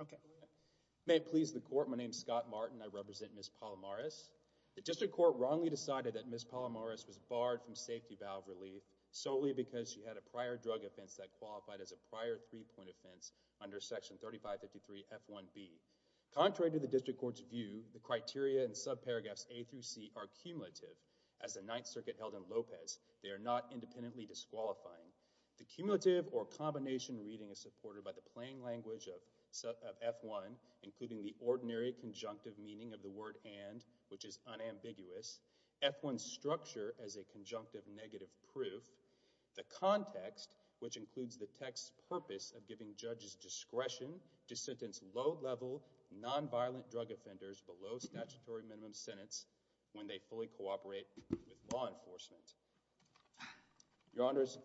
okay may it please the court my name is Scott Martin I represent Ms. Palomares the district court wrongly decided that Ms. Palomares was barred from safety valve relief solely because she had a prior drug offense that qualified as a prior three-point offense under section 3553 f1b contrary to the district court's view the criteria and subparagraphs a through C are cumulative as the Ninth Circuit held in Lopez they are not independently disqualifying the plain language of f1 including the ordinary conjunctive meaning of the word and which is unambiguous f1 structure as a conjunctive negative proof the context which includes the text purpose of giving judges discretion to sentence low level nonviolent drug offenders below statutory minimum sentence when they fully cooperate with law enforcement your honors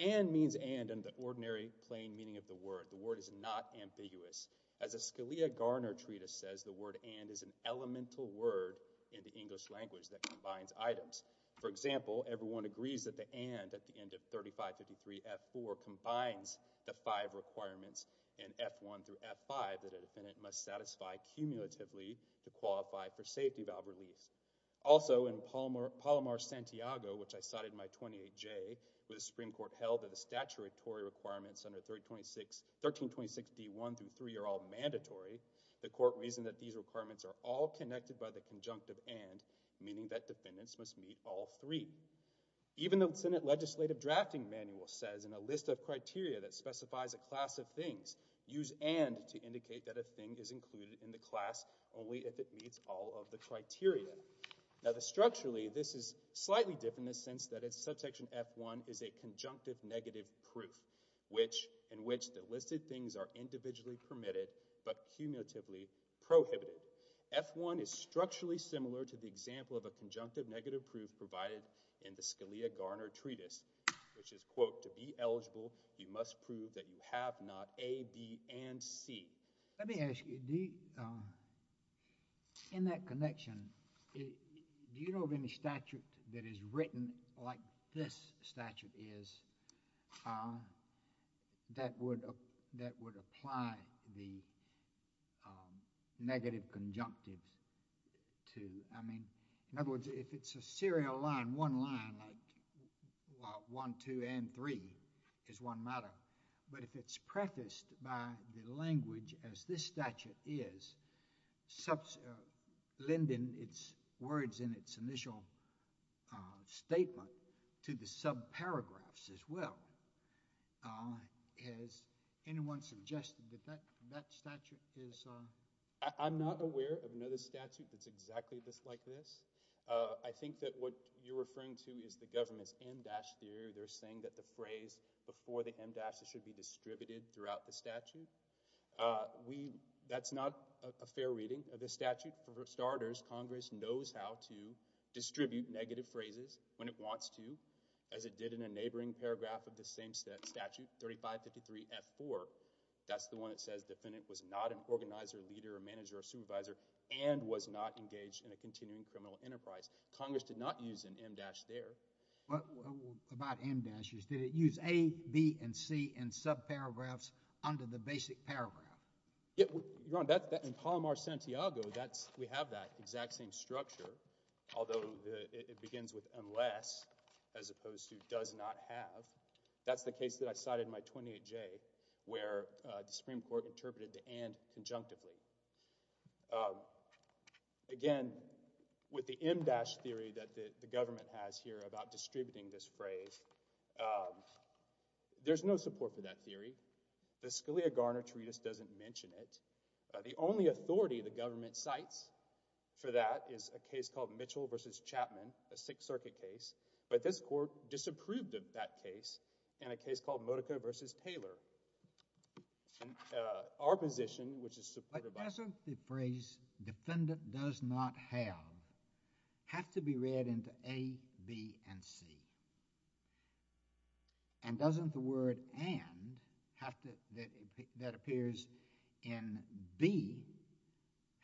and means and and the word is not ambiguous as a Scalia Garner treatise says the word and is an elemental word in the English language that combines items for example everyone agrees that the and at the end of 3553 f4 combines the five requirements in f1 through f5 that a defendant must satisfy cumulatively to qualify for safety valve release also in Palmer Palomar Santiago which I cited my 28 J with a Supreme Court held that the statutory requirements under 326 1326 d1 through three are all mandatory the court reason that these requirements are all connected by the conjunctive and meaning that defendants must meet all three even though Senate legislative drafting manual says in a list of criteria that specifies a class of things use and to indicate that a thing is included in the class only if it meets all of the criteria now the structurally this is section f1 is a conjunctive negative proof which in which the listed things are individually permitted but cumulatively prohibited f1 is structurally similar to the example of a conjunctive negative proof provided in the Scalia Garner treatise which is quote to be eligible you must prove that you have not a B and C let me ask you D in that connection do you know of any statute that is written like this statute is that would that would apply the negative conjunctive to I mean in other words if it's a serial line one line like one two and three is one matter but if it's prefaced by the statement to the sub paragraphs as well as anyone suggested that that statute is I'm not aware of another statute that's exactly this like this I think that what you're referring to is the government's em dash theory they're saying that the phrase before the em dash it should be distributed throughout the statute we that's not a fair reading of the statute for starters Congress knows how to distribute negative phrases when it wants to as it did in a neighboring paragraph of the same set statute 3553 f4 that's the one that says defendant was not an organizer leader or manager or supervisor and was not engaged in a continuing criminal enterprise Congress did not use an em dash there but about em dashes did it use a B and C and sub paragraphs under the basic paragraph yeah you're on that in Palomar Santiago that's we have that exact same structure although it begins with unless as opposed to does not have that's the case that I cited my 28 J where the Supreme Court interpreted to and conjunctively again with the em dash theory that the government has here about distributing this phrase there's no support for that theory the Scalia Garner treatise doesn't mention it the only authority the government cites for that is a case called Mitchell versus Chapman a Sixth Circuit case but this court disapproved of that case in a case called Modica versus Taylor our position which is supported by... But doesn't the phrase defendant does not have have to be read into A, B, and C and doesn't the word and have to that appears in B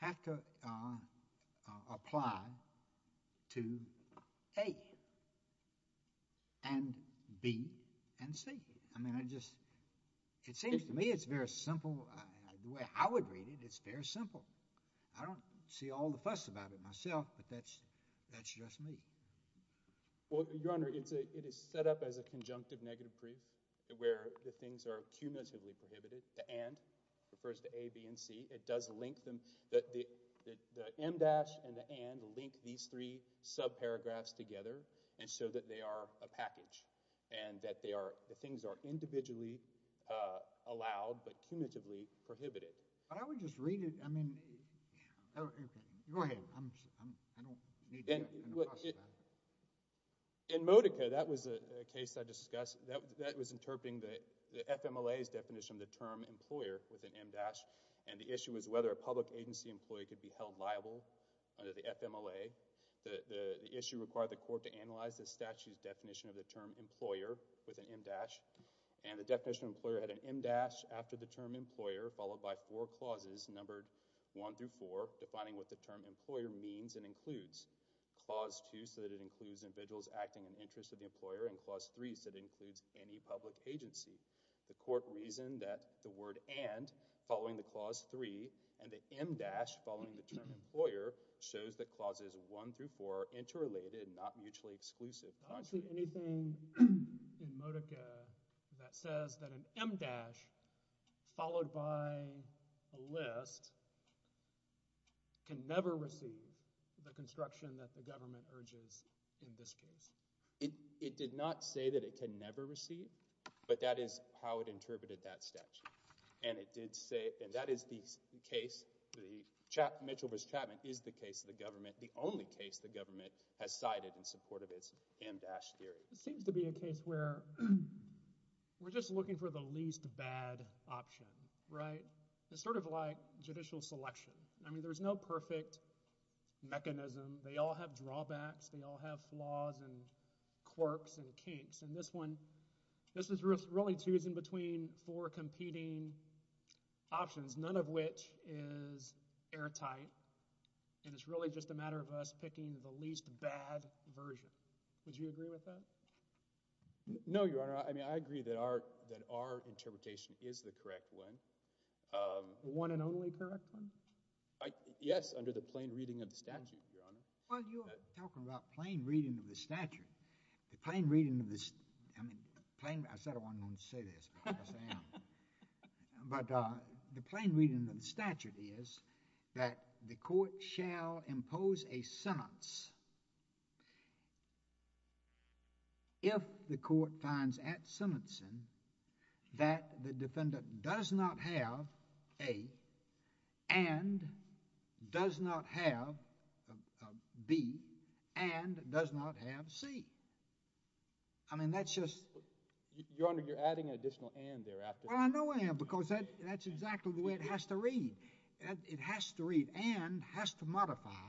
have to apply to A, and B, and C I mean I just it seems to me it's very simple the way I would read it it's very simple I don't see all the fuss about it myself but that's that's just me well you're wondering it's a it is set up as a conjunctive negative proof where the things are cumulatively prohibited and refers to A, B, and C it does link them that the em dash and the and link these three sub paragraphs together and so that they are a package and that they are the things are individually allowed but in Modica that was a case I discussed that was interpreting the FMLA's definition of the term employer with an em dash and the issue is whether a public agency employee could be held liable under the FMLA the issue required the court to analyze the statute's definition of the term employer with an em dash and the definition of employer had an em dash after the term employer followed by four clauses numbered one through four defining what the term employer means and includes clause two so that it includes individuals acting an interest of the employer and clause three so it includes any public agency the court reasoned that the word and following the clause three and the em dash following the term employer shows that clauses one through four interrelated not mutually exclusive anything that says that an em dash followed by a list can never receive the construction that the government urges in this case it did not say that it can never receive but that is how it interpreted that statute and it did say and that is the case the Mitchell v. Chapman is the case of the government the only case the government has cited in support of its em dash theory it seems to be a case where we're just looking for the least bad option right it's sort of like judicial selection I mean there's no perfect mechanism they all have drawbacks they all have flaws and quirks and kinks and this one this is really choosing between four competing options none of which is airtight and it's really just a matter of us picking the least bad version would you agree with that no your honor I mean I agree that our that our interpretation is the correct one one and only correct one yes under the plain reading of the statute you're talking about plain reading of the statute the plain reading of this I mean playing I said I want to say this but the plain reading of the statute is that the court shall impose a sentence if the court finds at sentencing that the defendant does not have a and does not have B and does not have C I mean that's just your honor you're adding an exactly the way it has to read and it has to read and has to modify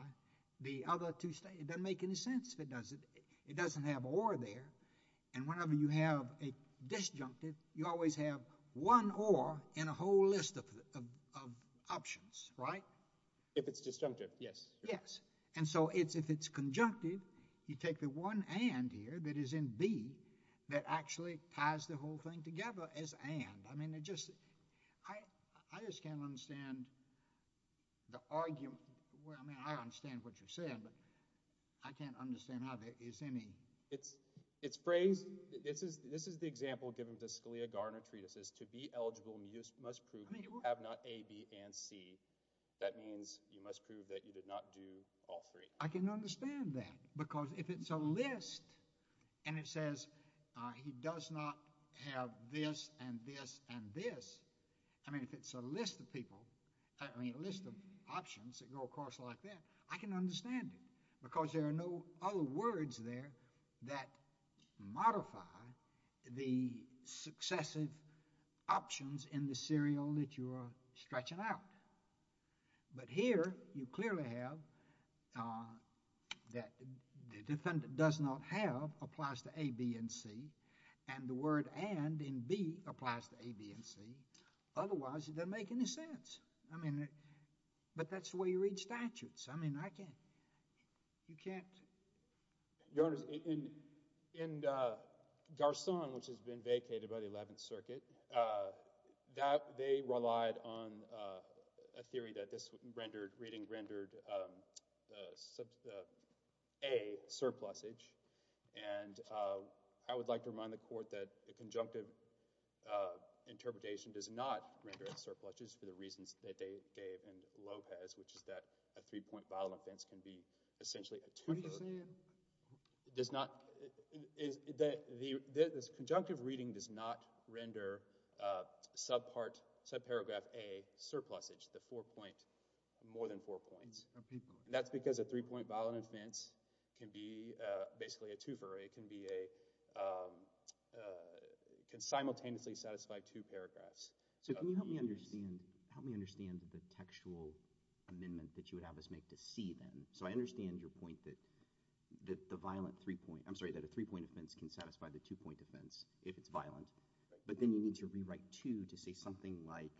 the other two state it doesn't make any sense if it doesn't it doesn't have or there and whenever you have a disjunctive you always have one or in a whole list of options right if it's disjunctive yes yes and so it's if it's conjunctive you take the one and here that is in B that actually ties the whole thing together as and I mean it just I I just can't understand the argument where I mean I understand what you're saying but I can't understand how there is any it's it's phrased this is this is the example given to Scalia Garner treatises to be eligible must prove you have not a B and C that means you must prove that you did not do all three I can understand that because if it's a list and it says he does not have this and this and this I mean if it's a list of people I mean a list of options that go across like that I can understand it because there are no other words there that modify the successive options in the serial that you are stretching out but here you clearly have that the defendant does not have applies to a B and C and the word and in B applies to a B and C otherwise it doesn't make any sense I mean but that's the way you read statutes I mean I can't you can't your honor's in in Garcon which has been vacated by the Eleventh Circuit that they relied on a theory that this rendered reading rendered a surplus age and I would like to remind the court that a conjunctive interpretation does not render as surpluses for the reasons that they gave and Lopez which is that a three-point violence can be essentially a two-year it does not is that the this conjunctive reading does not render sub part sub more than four points that's because a three-point violent offense can be basically a twofer it can be a can simultaneously satisfy two paragraphs so can you help me understand help me understand the textual amendment that you would have us make to see them so I understand your point that that the violent three-point I'm sorry that a three-point offense can satisfy the two-point defense if it's violent but then you need to rewrite to to say something like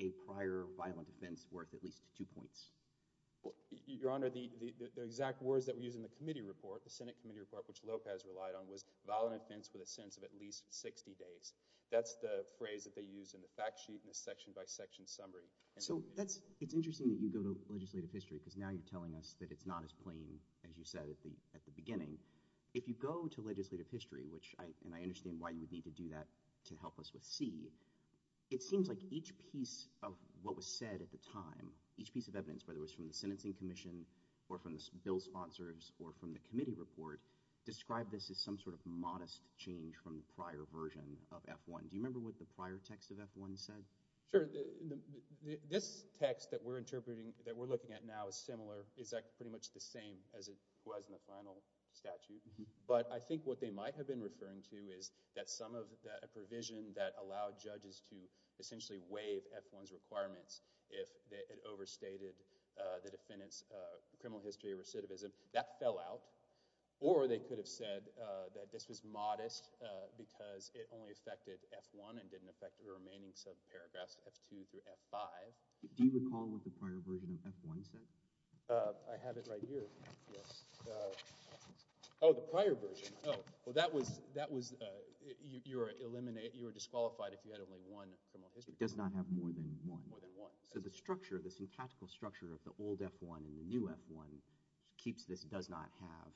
a prior violent offense worth at least two points your honor the exact words that we use in the committee report the Senate Committee report which Lopez relied on was violent offense with a sense of at least 60 days that's the phrase that they use in the fact sheet in a section by section summary so that's it's interesting that you go to legislative history because now you're telling us that it's not as plain as you said at the at the beginning if you go to legislative history which I and I understand why you would need to do that to help us with see it seems like each piece of what was said at the time each piece of evidence whether it was from the Sentencing Commission or from the bill sponsors or from the committee report describe this as some sort of modest change from the prior version of f1 do you remember what the prior text of f1 said sure this text that we're interpreting that we're looking at now is similar is that pretty much the same as it was in the final statute but I judge's to essentially waive f1's requirements if it overstated the defendants criminal history recidivism that fell out or they could have said that this was modest because it only affected f1 and didn't affect the remaining sub paragraphs f2 through f5 I have it right here oh the prior version well that was that was your eliminate you were disqualified if you had only one it does not have more than one more than one so the structure of the syntactical structure of the old f1 and the new f1 keeps this does not have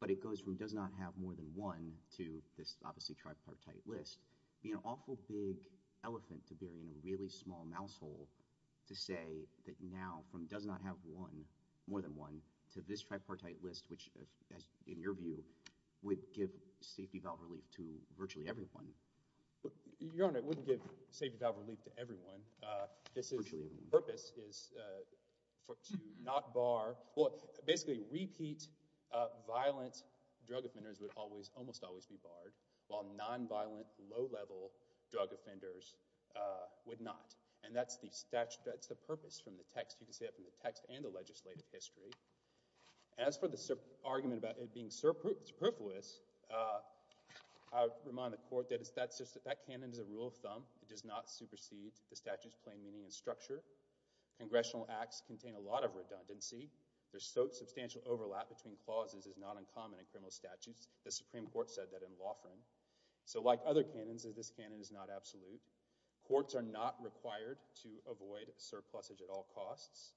but it goes from does not have more than one to this obviously tripartite list be an awful big elephant to bury in a really small mouse hole to say that now from does not have one more than one to this tripartite list which in your view would give safety valve relief to virtually everyone but your honor it wouldn't give safety valve relief to everyone this is the purpose is for to not bar what basically repeat violent drug offenders would always almost always be barred while nonviolent low-level drug offenders would not and that's the statute that's the purpose from the text you can see up in the text and the I remind the court that it's that's just that that cannon is a rule of thumb it does not supersede the statutes plain meaning and structure congressional acts contain a lot of redundancy there's so substantial overlap between clauses is not uncommon in criminal statutes the Supreme Court said that in law firm so like other cannons is this cannon is not absolute courts are not required to avoid surplus age at all costs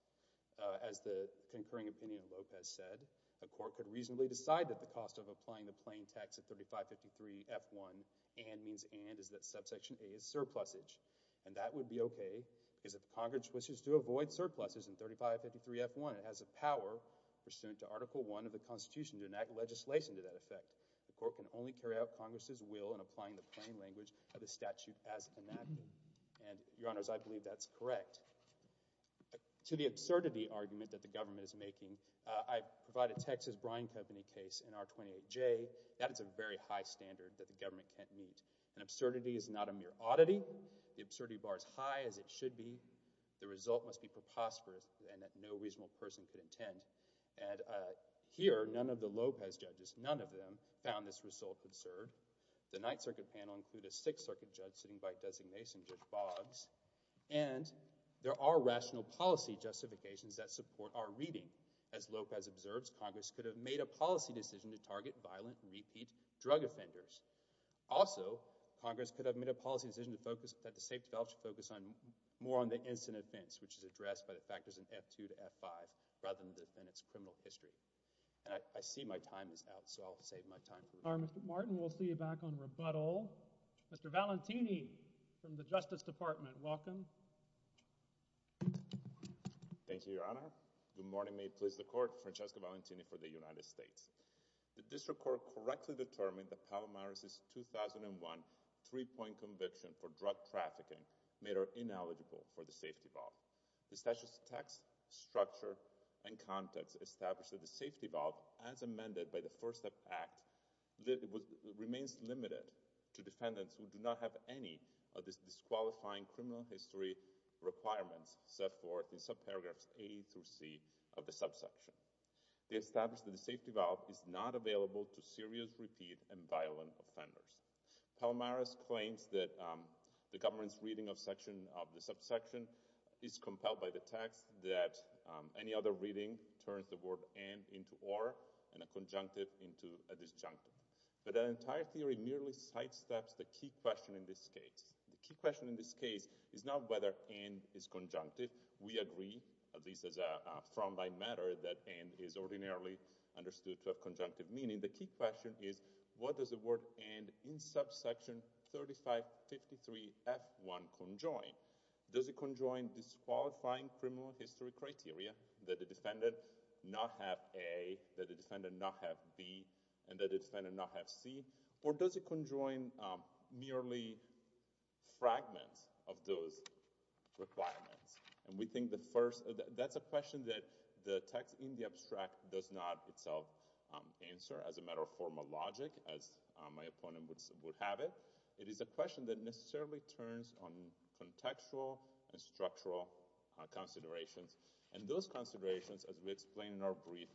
as the concurring opinion Lopez said the court could reasonably decide that the cost of applying the plain text at 3553 f1 and means and is that subsection a is surplus age and that would be okay is if Congress wishes to avoid surpluses in 3553 f1 it has a power pursuant to article 1 of the Constitution to enact legislation to that effect the court can only carry out Congress's will and applying the plain language of the statute as an act and your honors I believe that's correct to the absurdity that the government is making I provide a Texas Brine Company case in our 28 J that is a very high standard that the government can't meet and absurdity is not a mere oddity the absurdity bars high as it should be the result must be preposterous and that no reasonable person could intend and here none of the Lopez judges none of them found this result concerned the Ninth Circuit panel include a Sixth Circuit judge sitting by designation judge Boggs and there are rational policy justifications that support our reading as Lopez observes Congress could have made a policy decision to target violent repeat drug offenders also Congress could have made a policy decision to focus that the safety belt should focus on more on the incident events which is addressed by the factors in f2 to f5 rather than defend its criminal history I see my time is out so I'll save my time Martin we'll see you back on rebuttal mr. thank you your honor good morning may please the court Francesca Valentini for the United States the district court correctly determined the palomar is 2001 three-point conviction for drug trafficking made her ineligible for the safety valve the statute of text structure and context established at the safety valve as amended by the first step act that remains limited to requirements set forth in subparagraphs a through C of the subsection they established that the safety valve is not available to serious repeat and violent offenders Palomar's claims that the government's reading of section of the subsection is compelled by the text that any other reading turns the word and into or and a conjunctive into a disjunctive but an entire theory merely sidesteps the key question in this case the key question in this case is not whether and is conjunctive we agree at least as a frontline matter that and is ordinarily understood to a conjunctive meaning the key question is what does the word and in subsection 3553 f1 conjoin does it conjoin disqualifying criminal history criteria that the defendant not have a that the defendant not have B and that it's been a not have C or does it conjoin merely fragments of those requirements and we think the first that's a question that the text in the abstract does not itself answer as a matter of formal logic as my opponent would have it it is a question that necessarily turns on contextual and structural considerations and those considerations as we explain in our brief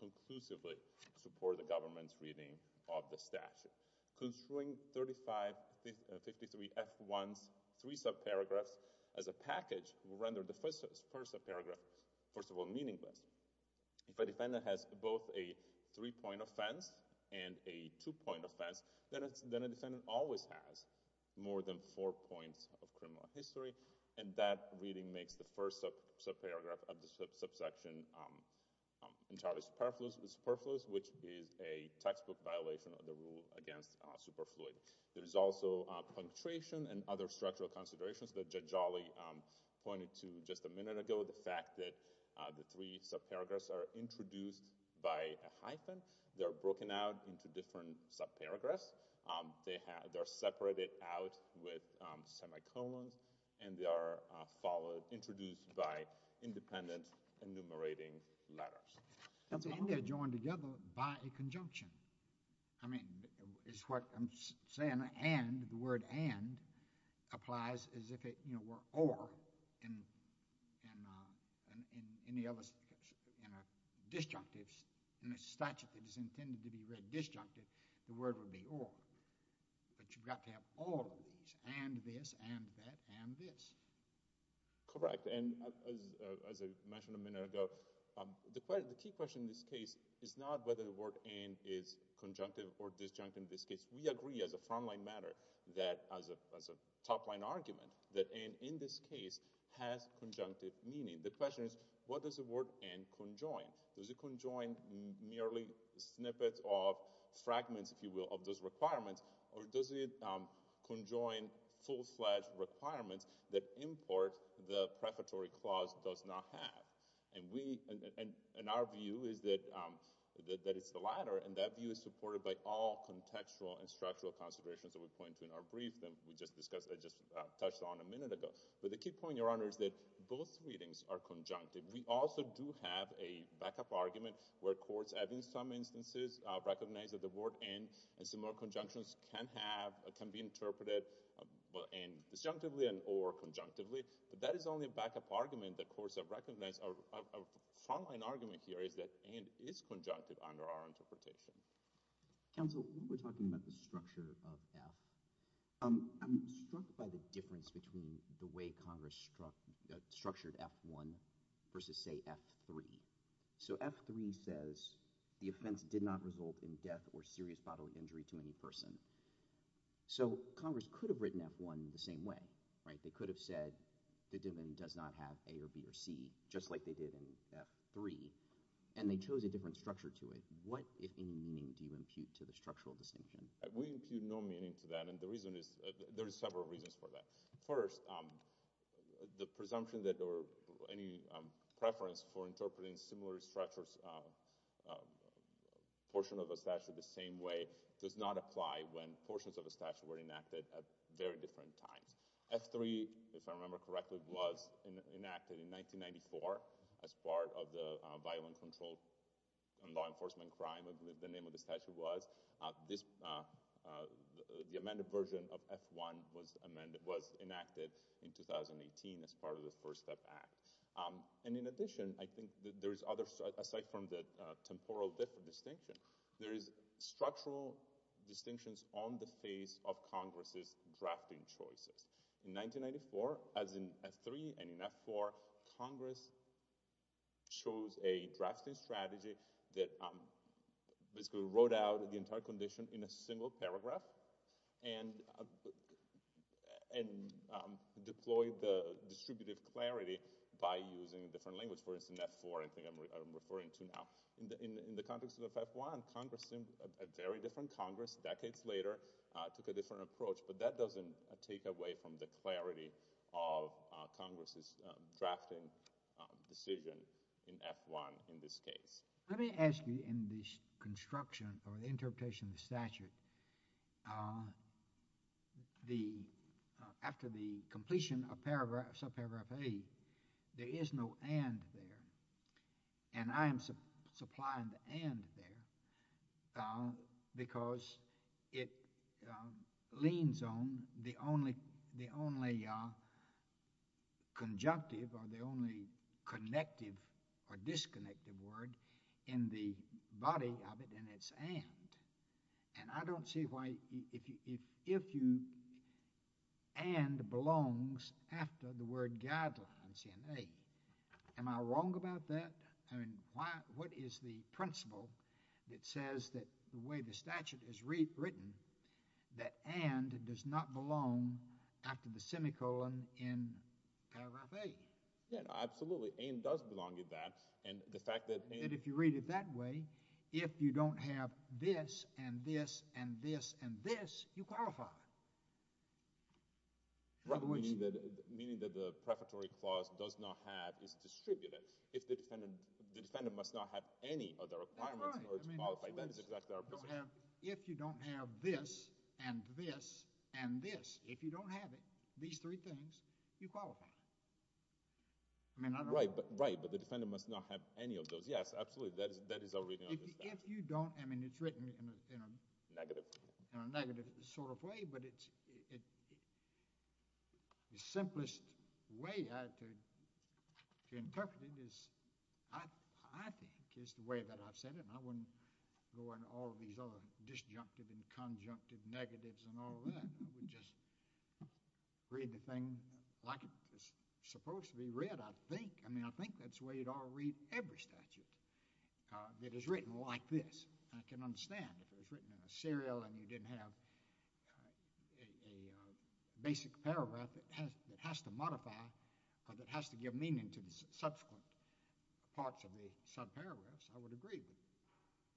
conclusively support the government's reading of the statute construing 3553 f1's three subparagraphs as a package rendered the first subparagraph first of all meaningless if a defendant has both a three-point offense and a two-point offense then it's then a defendant always has more than four points of criminal history and that reading makes the first subparagraph of the subsection entirely superfluous superfluous which is a textbook violation of the rule against superfluid there is also punctuation and other structural considerations that judge Ali pointed to just a minute ago the fact that the three subparagraphs are introduced by a hyphen they're broken out into different subparagraphs they have they're separated out with semicolons and they are followed introduced by independent enumerating letters joined together by a conjunction I mean it's what I'm saying and the word and applies as if it you know we're or in and in any of us in a disjunctive in a statute that is intended to be read disjunctive the word would be or but you've got to have all of these and this and that and this correct and as I mentioned a minute ago the key question in this case is not whether the word and is conjunctive or disjunctive in this case we agree as a frontline matter that as a top-line argument that and in this case has conjunctive meaning the question is what does the word and conjoin does it conjoin merely snippets of fragments if you will of those requirements or does it conjoin full-fledged requirements that import the prefatory clause does not have and we and in our view is that that it's the latter and that view is supported by all contextual and structural considerations that we point to in our brief then we just discussed I just touched on a minute ago but the key point your honor is that both readings are conjunctive we also do have a backup argument where courts have in some instances recognize that the word and and some more conjunctions can have a can be interpreted well and disjunctively and or conjunctively but that is only a backup argument that courts have recognized our frontline argument here is that and is conjunctive under our interpretation council we're talking about the structure of the difference between the way Congress struck structured f1 versus say f3 so f3 says the offense did not result in death or serious bodily injury to any person so Congress could have written f1 the same way right they could have said the dividend does not have a or B or C just like they did in f3 and they chose a different structure to it what if any meaning do you impute to the structural distinction we impute no meaning to that and the reason is there's several reasons for that first the presumption that or any preference for interpreting similar structures portion of a statue the same way does not apply when portions of a statute were enacted at very different times f3 if I remember correctly was enacted in 1994 as part of the violent control and law enforcement crime of the name of the statute was this the amended version of f1 was amended was enacted in 2018 as part of the first step act and in addition I think there is other aside from the temporal different distinction there is structural distinctions on the face of Congress's drafting choices in 1994 as in f3 and in f4 Congress chose a drafting strategy that basically wrote out the entire condition in a single paragraph and and deployed the referring to now in the context of f1 Congress a very different Congress decades later took a different approach but that doesn't take away from the clarity of Congress's drafting decision in f1 in this case let me ask you in this construction or interpretation of statute the after the completion of and I am supplying and there because it leans on the only the only conjunctive or the only connective or disconnected word in the body of it and it's and and I don't see why if you and belongs after the word guidelines in a am I wrong about that and what is the principle that says that the way the statute is written that and does not belong after the semicolon in absolutely and does belong in that and the fact that if you read it that way if you don't have this and this and this and this you qualify meaning that the prefatory clause does not have is distributed if the defendant the defendant must not have any other if you don't have this and this and this if you don't have it these three things you qualify I mean I'm right but right but the defendant must not have any of those yes absolutely that is that is already if you don't I mean it's written in a negative in a negative sort of way but it's the simplest way to interpret it is I think is the way that I've said it and I wouldn't go into all these other disjunctive and conjunctive negatives and all that just read the thing like it's supposed to be read I think I mean I think that's the way you'd all read every statute it is written like this I can understand if it was written in a serial and you didn't have a basic paragraph it has it has to modify because it has to give meaning to the subsequent parts of the sub paragraphs I would agree with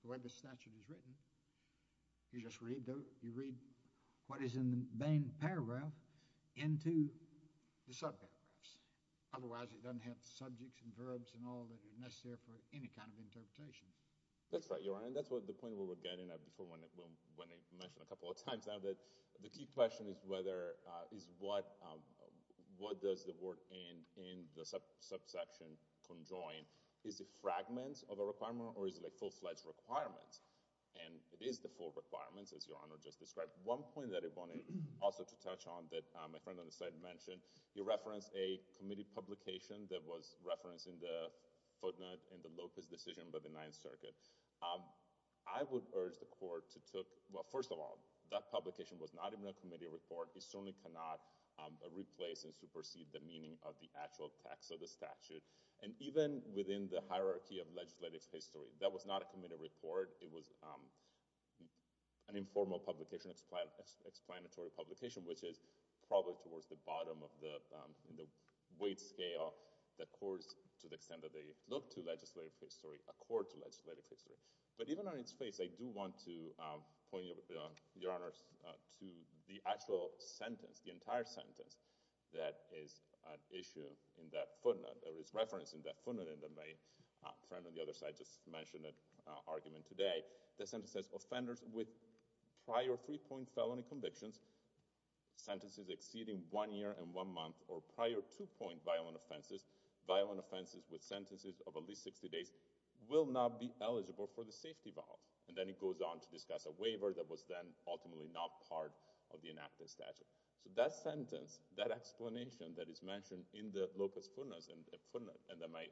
the way the statute is written you just read though you read what is in the main paragraph into the subparagraphs otherwise it doesn't have subjects and verbs and all that are necessary for any kind of interpretation that's right your honor and that's what the point of what we're getting at before when when I mentioned a couple of times now that the key question is whether is what what does the work in in the subsection conjoin is the fragments of a requirement or is like full-fledged requirements and it is the full requirements as your honor just described one point that I wanted also to touch on that my friend on the side mentioned you referenced a committee publication that was referencing the footnote in the Lopez decision by the Ninth Circuit I would urge the court to well first of all that publication was not in a committee report it certainly cannot replace and supersede the meaning of the actual text of the statute and even within the hierarchy of legislative history that was not a committee report it was an informal publication explanatory publication which is probably towards the bottom of the weight scale that course to the extent that they look to legislative history accord to legislative history but even on its face I do want to point your honor's to the actual sentence the entire sentence that is an issue in that footnote there is reference in that footnote in the main friend on the other side just mentioned that argument today the sentence says offenders with prior three-point felony convictions sentences exceeding one year and one month or prior to point violent offenses violent offenses with sentences of at least 60 days will not be eligible for the safety vault and then it goes on to discuss a waiver that was then ultimately not part of the enacted statute so that sentence that explanation that is mentioned in the Locust footnotes and the footnote and that my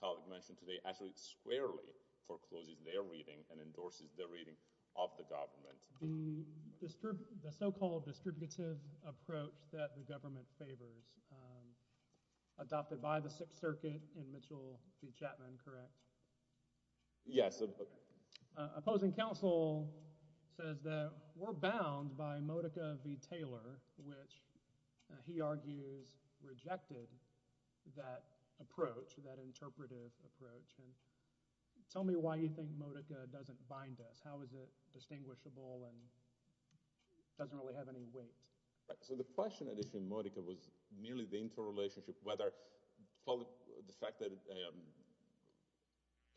colleague mentioned today actually squarely forecloses their reading and endorses the reading of the government mr. the so-called distributive approach that the government favors adopted by the Sixth Circuit in Mitchell v. Chapman correct yes opposing counsel says that we're bound by Modica v. Taylor which he argues rejected that approach that interpretive approach and tell me why you think Modica doesn't bind us how is it distinguishable and doesn't really have any weight so the question addition Modica was nearly the interrelationship whether the fact that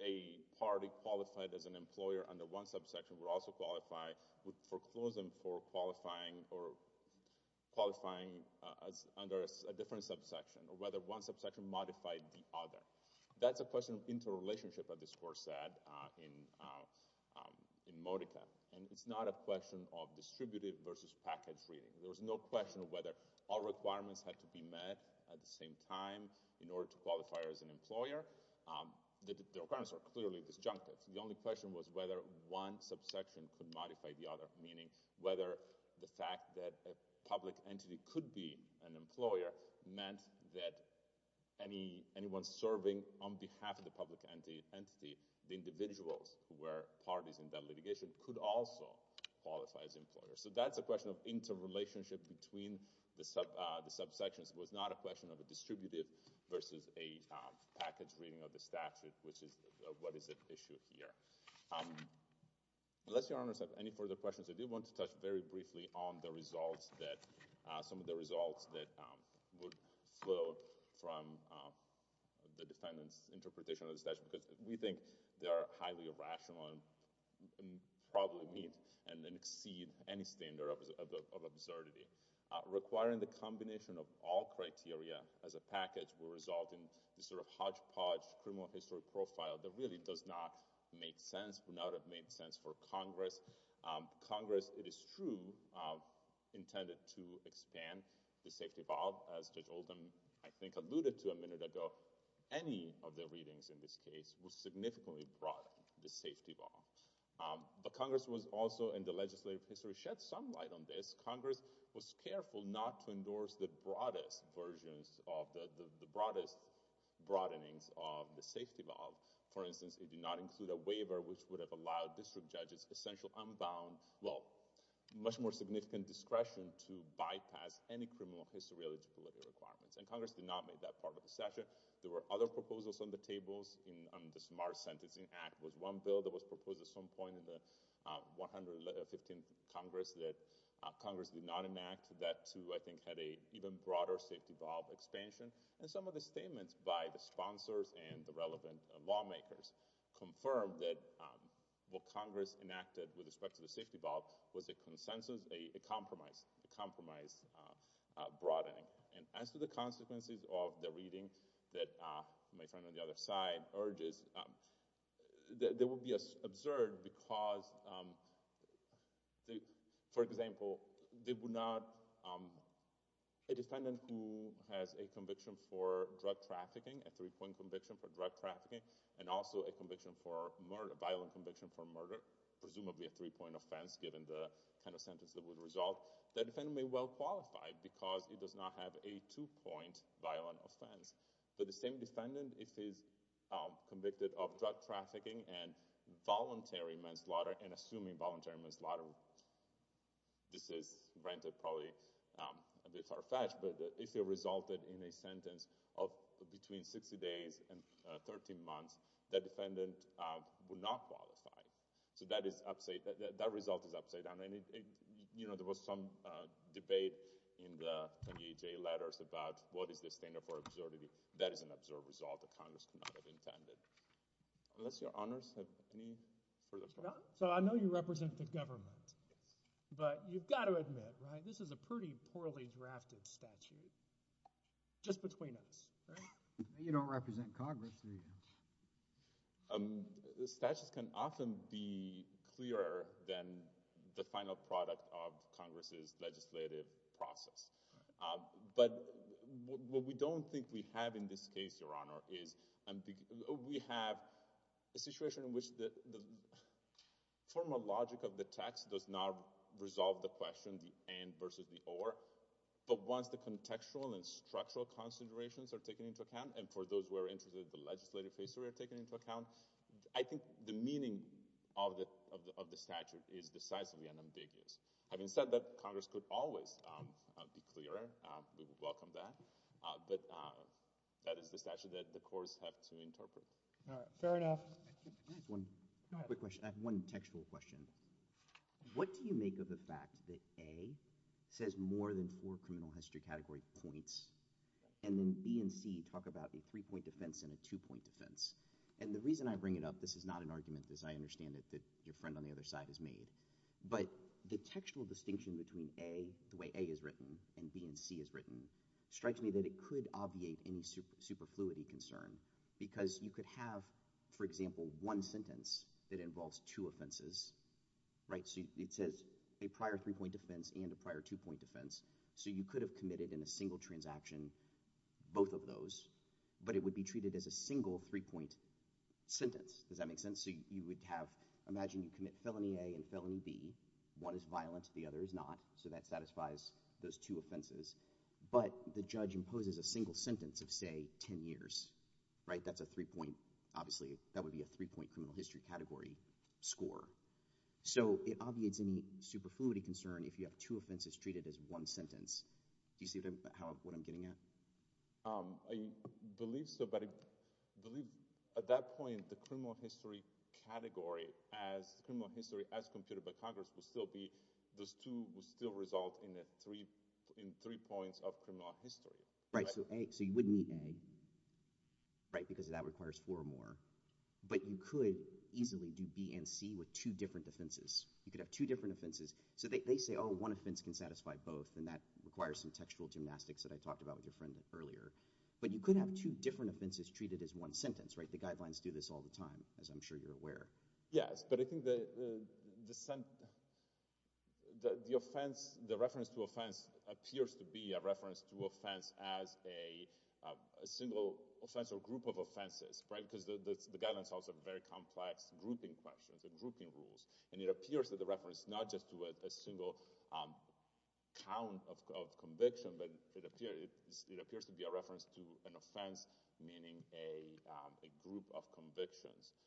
a party qualified as an employer under one subsection would also qualify with foreclosing for qualifying or qualifying as under a different subsection or whether one subsection modified the other that's a question of inter relationship of this course said in in Modica and it's not a question of whether all requirements had to be met at the same time in order to qualify as an employer the requirements are clearly disjunctive the only question was whether one subsection could modify the other meaning whether the fact that a public entity could be an employer meant that any anyone serving on behalf of the public entity the individuals who were parties in that litigation could also qualify as employer so that's a question of interrelationship between the sub the subsections was not a question of a distributive versus a package reading of the statute which is what is the issue here unless your honors have any further questions I do want to touch very briefly on the results that some of the results that would flow from the defendant's interpretation of the statute because we think they are highly irrational and probably meet and then exceed any standard of absurdity requiring the combination of all criteria as a package will result in the sort of hodgepodge criminal history profile that really does not make sense would not have made sense for Congress Congress it is true intended to expand the safety valve as judge Oldham I think alluded to a minute ago any of the readings in this case was significantly brought the safety valve but Congress was also in the legislative history shed some light on this Congress was careful not to endorse the broadest versions of the the broadest broadenings of the safety valve for instance it did not include a waiver which would have allowed district judges essential unbound well much more significant discretion to bypass any criminal history eligibility requirements and Congress did not make that part of the session there were other proposals on the tables in the smart sentencing act was one bill that was proposed at some point in the 115th Congress that Congress did not enact that too I think had a even broader safety valve expansion and some of the statements by the sponsors and the relevant lawmakers confirmed that what Congress enacted with respect to the safety valve was a consensus a compromise the compromise broadening and as to the consequences of the reading that my friend on the other side urges there will be a absurd because the for example they would not a defendant who has a conviction for drug trafficking a three-point conviction for drug trafficking and also a conviction for murder violent conviction for murder presumably a three-point offense given the kind of sentence that would result the defendant may well qualify because it does not have a two-point violent offense but the same defendant if he's convicted of drug trafficking and voluntary manslaughter and assuming voluntary manslaughter this is rented probably a bit far-fetched but if it resulted in a sentence of between 60 days and 13 months that defendant would not qualify so that is up say that that was some debate in the letters about what is the standard for absurdity that is an absurd result the Congress intended unless your honors so I know you represent the government but you've got to admit right this is a pretty poorly drafted statute just between us you don't represent Congress the statutes can often be clearer than the final product of Congress's legislative process but what we don't think we have in this case your honor is and we have a situation in which the formal logic of the text does not resolve the question the end versus the or but once the contextual and structural considerations are taken into account and for those who are interested the legislative history are taken into account I think the meaning of the of the statute is decisively unambiguous having said that Congress could always be clearer welcome that but that is the statute that the courts have to interpret all right fair enough one quick question I have one textual question what do you make of the fact that a says more than four criminal history category points and then B and C talk about a three-point defense in a two-point defense and the reason I bring it up this is not an argument as I understand it that your friend on the other side has made but the textual distinction between a the way a is written and B and C is written strikes me that it could obviate any super superfluity concern because you could have for example one sentence that involves two offenses right so it says a prior three-point defense and a prior two-point defense so you could have committed in a single transaction both of those but it would be treated as a single three-point sentence does that make sense so you would have imagine you commit felony a and felony B one is violent the other is not so that satisfies those two offenses but the judge imposes a single sentence of say ten years right that's a three-point obviously that would be a three-point criminal history category score so it obviates any superfluity concern if you have two offenses treated as one I believe so but I believe at that point the criminal history category as criminal history as computed by Congress will still be those two will still result in a three in three points of criminal history right so a so you wouldn't need a right because that requires four or more but you could easily do B and C with two different defenses you could have two different offenses so they say oh one offense can satisfy both and that requires some textual gymnastics that I but you could have two different offenses treated as one sentence right the guidelines do this all the time as I'm sure you're aware yes but I think the the sentence the offense the reference to offense appears to be a reference to offense as a single offense or group of offenses right because the guidance also very complex grouping questions and grouping rules and it appears that the reference not just to it a single count of conviction but it it appears to be a reference to an offense meaning a group of convictions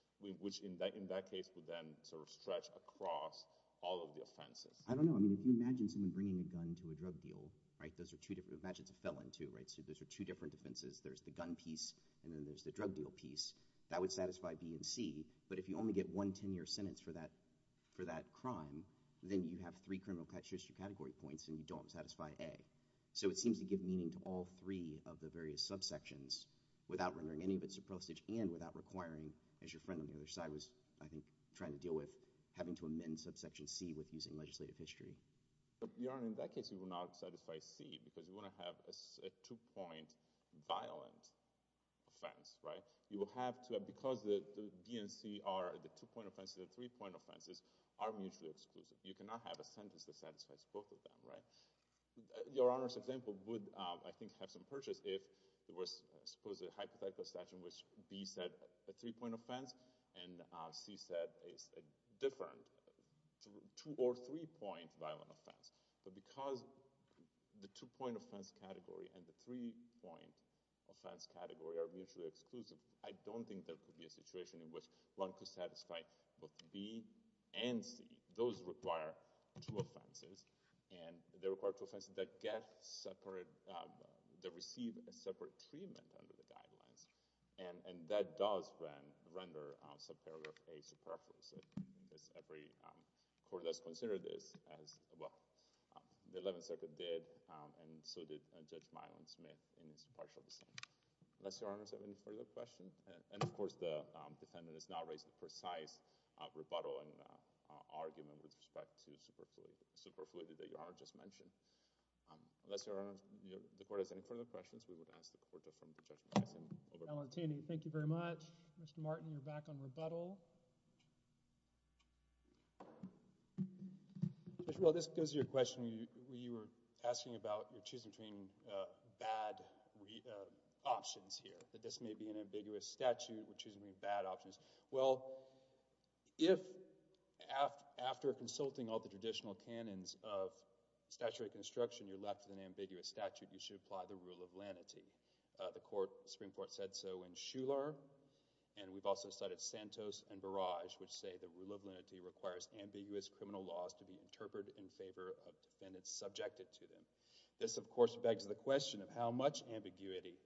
which in that in that case would then sort of stretch across all of the offenses I don't know I mean if you imagine someone bringing a gun into a drug deal right those are two different matches a felon to right so those are two different defenses there's the gun piece and then there's the drug deal piece that would satisfy B and C but if you only get one 10-year sentence for that for that crime then you have three criminal category points and you don't satisfy a so it seems to give meaning to all three of the various subsections without rendering any of its approach and without requiring as your friend on the other side was I think trying to deal with having to amend subsection C with using legislative history you are in that case you will not satisfy C because you want to have a two-point violent offense right you will have to because the DNC are the two-point offenses the three-point offenses are mutually exclusive you cannot have a sentence that satisfies both of them right your honor's example would I think have some purchase if it was supposed a hypothetical session which B said a three-point offense and C said it's a different two or three-point violent offense but because the two-point offense category and the three-point offense category are mutually exclusive I don't think there could be a situation in which one could satisfy both B and C those require two offenses and they require two offenses that get separate they receive a separate treatment under the guidelines and and that does when render subparagraph a superfluous every court does consider this as well the 11th circuit did and so did judge my own Smith in his partial descent unless your honors have any further question and of course the defendant is now raised the with respect to superfluous superfluity that you are just mentioned unless your honor the court has any further questions we would ask the court to from the judge Valentini thank you very much mr. Martin you're back on rebuttal well this goes your question you were asking about your choosing between bad options here that this may be an ambiguous statute which is mean bad options well if after consulting all the traditional canons of statutory construction you're left with an ambiguous statute you should apply the rule of lanity the court Supreme Court said so in Schuller and we've also cited Santos and barrage which say the rule of lenity requires ambiguous criminal laws to be interpreted in favor of defendants subjected to them this of course begs the question of how much ambiguity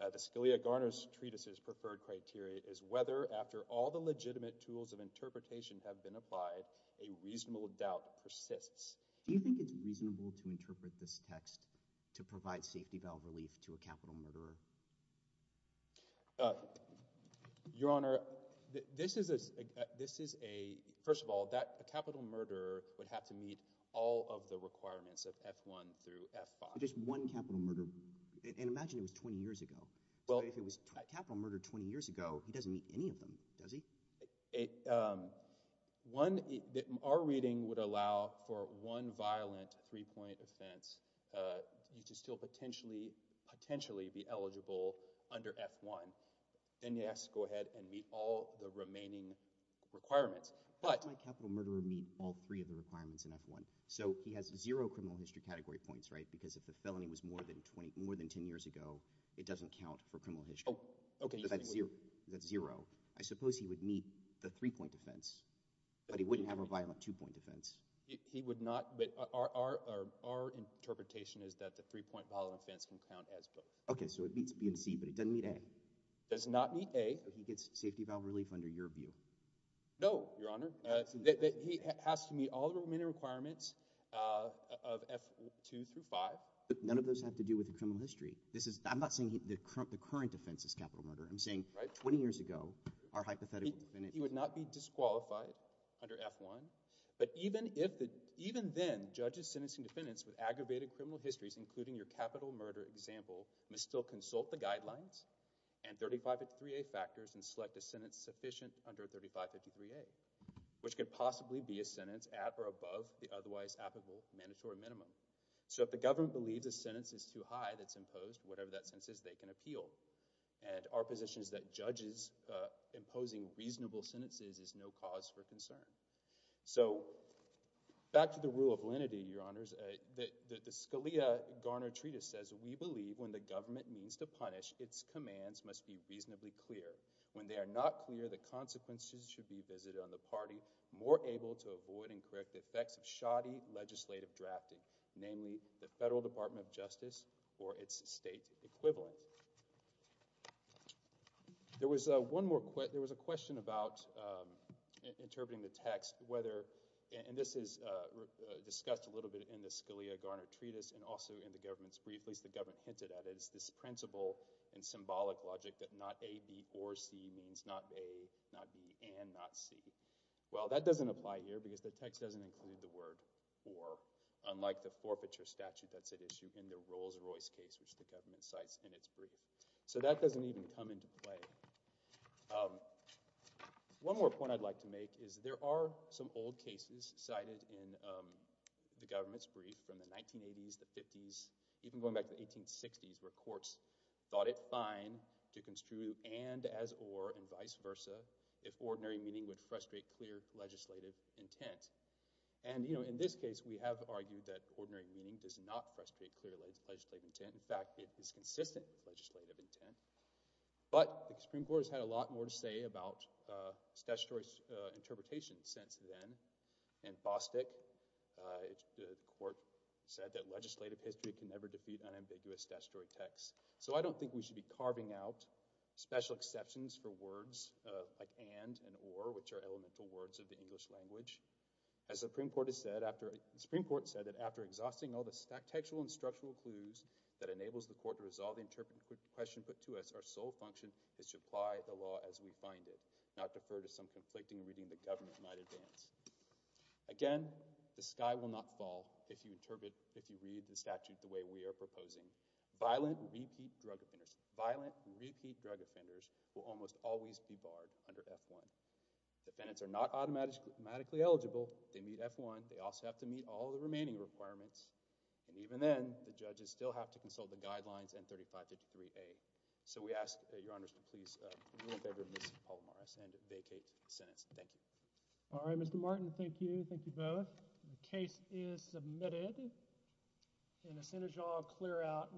the Scalia Garner's treatises preferred criteria is whether after all the legitimate tools of interpretation have been applied a reasonable doubt persists do you think it's reasonable to interpret this text to provide safety valve relief to a capital murderer your honor this is a this is a first of all that a capital murderer would have to meet all of the requirements of f1 through f5 just one capital murder and imagine it was 20 years ago well if it was a capital murder 20 years ago he doesn't meet any of them does he a one that our reading would allow for one violent three-point offense you just still potentially potentially be eligible under f1 then yes go ahead and meet all the remaining requirements but my capital murderer meet all three of the requirements in f1 so he has zero criminal history category points right because if the felony was more than 20 more than 10 years ago it doesn't count for criminal history okay that's zero that's zero I suppose he would meet the three-point defense but he wouldn't have a violent two-point defense he would not but our interpretation is that the three-point violent offense can count as both okay so it beats B and C but it doesn't mean a does not meet a he gets safety valve relief under your view no your honor he has to meet all the remaining requirements of f2 through 5 none of those have to do with the criminal history this is I'm not saying the current the current defense is capital murder I'm saying right 20 years ago our hypothetical he would not be disqualified under f1 but even if the even then judges sentencing defendants with aggravated criminal histories including your capital murder example must still consult the guidelines and 35 at 3a factors and select a sentence sufficient under 3553 a which could possibly be a sentence at or above the otherwise applicable mandatory minimum so if the government believes a sentence is too high that's imposed whatever that sense is they can appeal and our position is that judges imposing reasonable sentences is no cause for concern so back to the rule of lenity your honors that the Scalia Garner treatise says we believe when the government means to punish its commands must be reasonably clear when they are not clear the consequences should be visited on the party more able to avoid and correct the effects of shoddy legislative drafting namely the Federal Department of Justice or its state equivalent there was one more quit there was a question about interpreting the text whether and this is discussed a little bit in the Scalia Garner treatise and also in the government's brief at least the government hinted at is this principle and symbolic logic that not a B or C means not a not B and not C well that doesn't apply here because the text doesn't include the word or unlike the forfeiture statute that's at issue in the Rolls-Royce case which the government cites in its brief so that doesn't even come into play one more point I'd like to make is there are some old cases cited in the government's brief from the 1980s the 50s even going back to 1860s where courts thought it fine to construe and as or and vice and you know in this case we have argued that ordinary meaning does not frustrate clearly legislative intent in fact it is consistent legislative intent but the Supreme Court has had a lot more to say about statutory interpretation since then and Bostick the court said that legislative history can never defeat unambiguous statutory text so I don't think we should be carving out special exceptions for words like and and or which are elemental words of the English language as the Supreme Court has said after the Supreme Court said that after exhausting all the stack textual and structural clues that enables the court to resolve the interpretive question put to us our sole function is to apply the law as we find it not defer to some conflicting reading the government might advance again the sky will not fall if you interpret if you read the statute the way we are proposing violent repeat drug offenders violent repeat drug offenders will almost always be barred under f1 defendants are not automatically eligible they meet f1 they also have to meet all the remaining requirements and even then the judges still have to consult the guidelines and 3553 a so we ask your honor's to please and vacate sentence thank you all right mr. Martin thank you thank you both the case is submitted in the center jaw clear out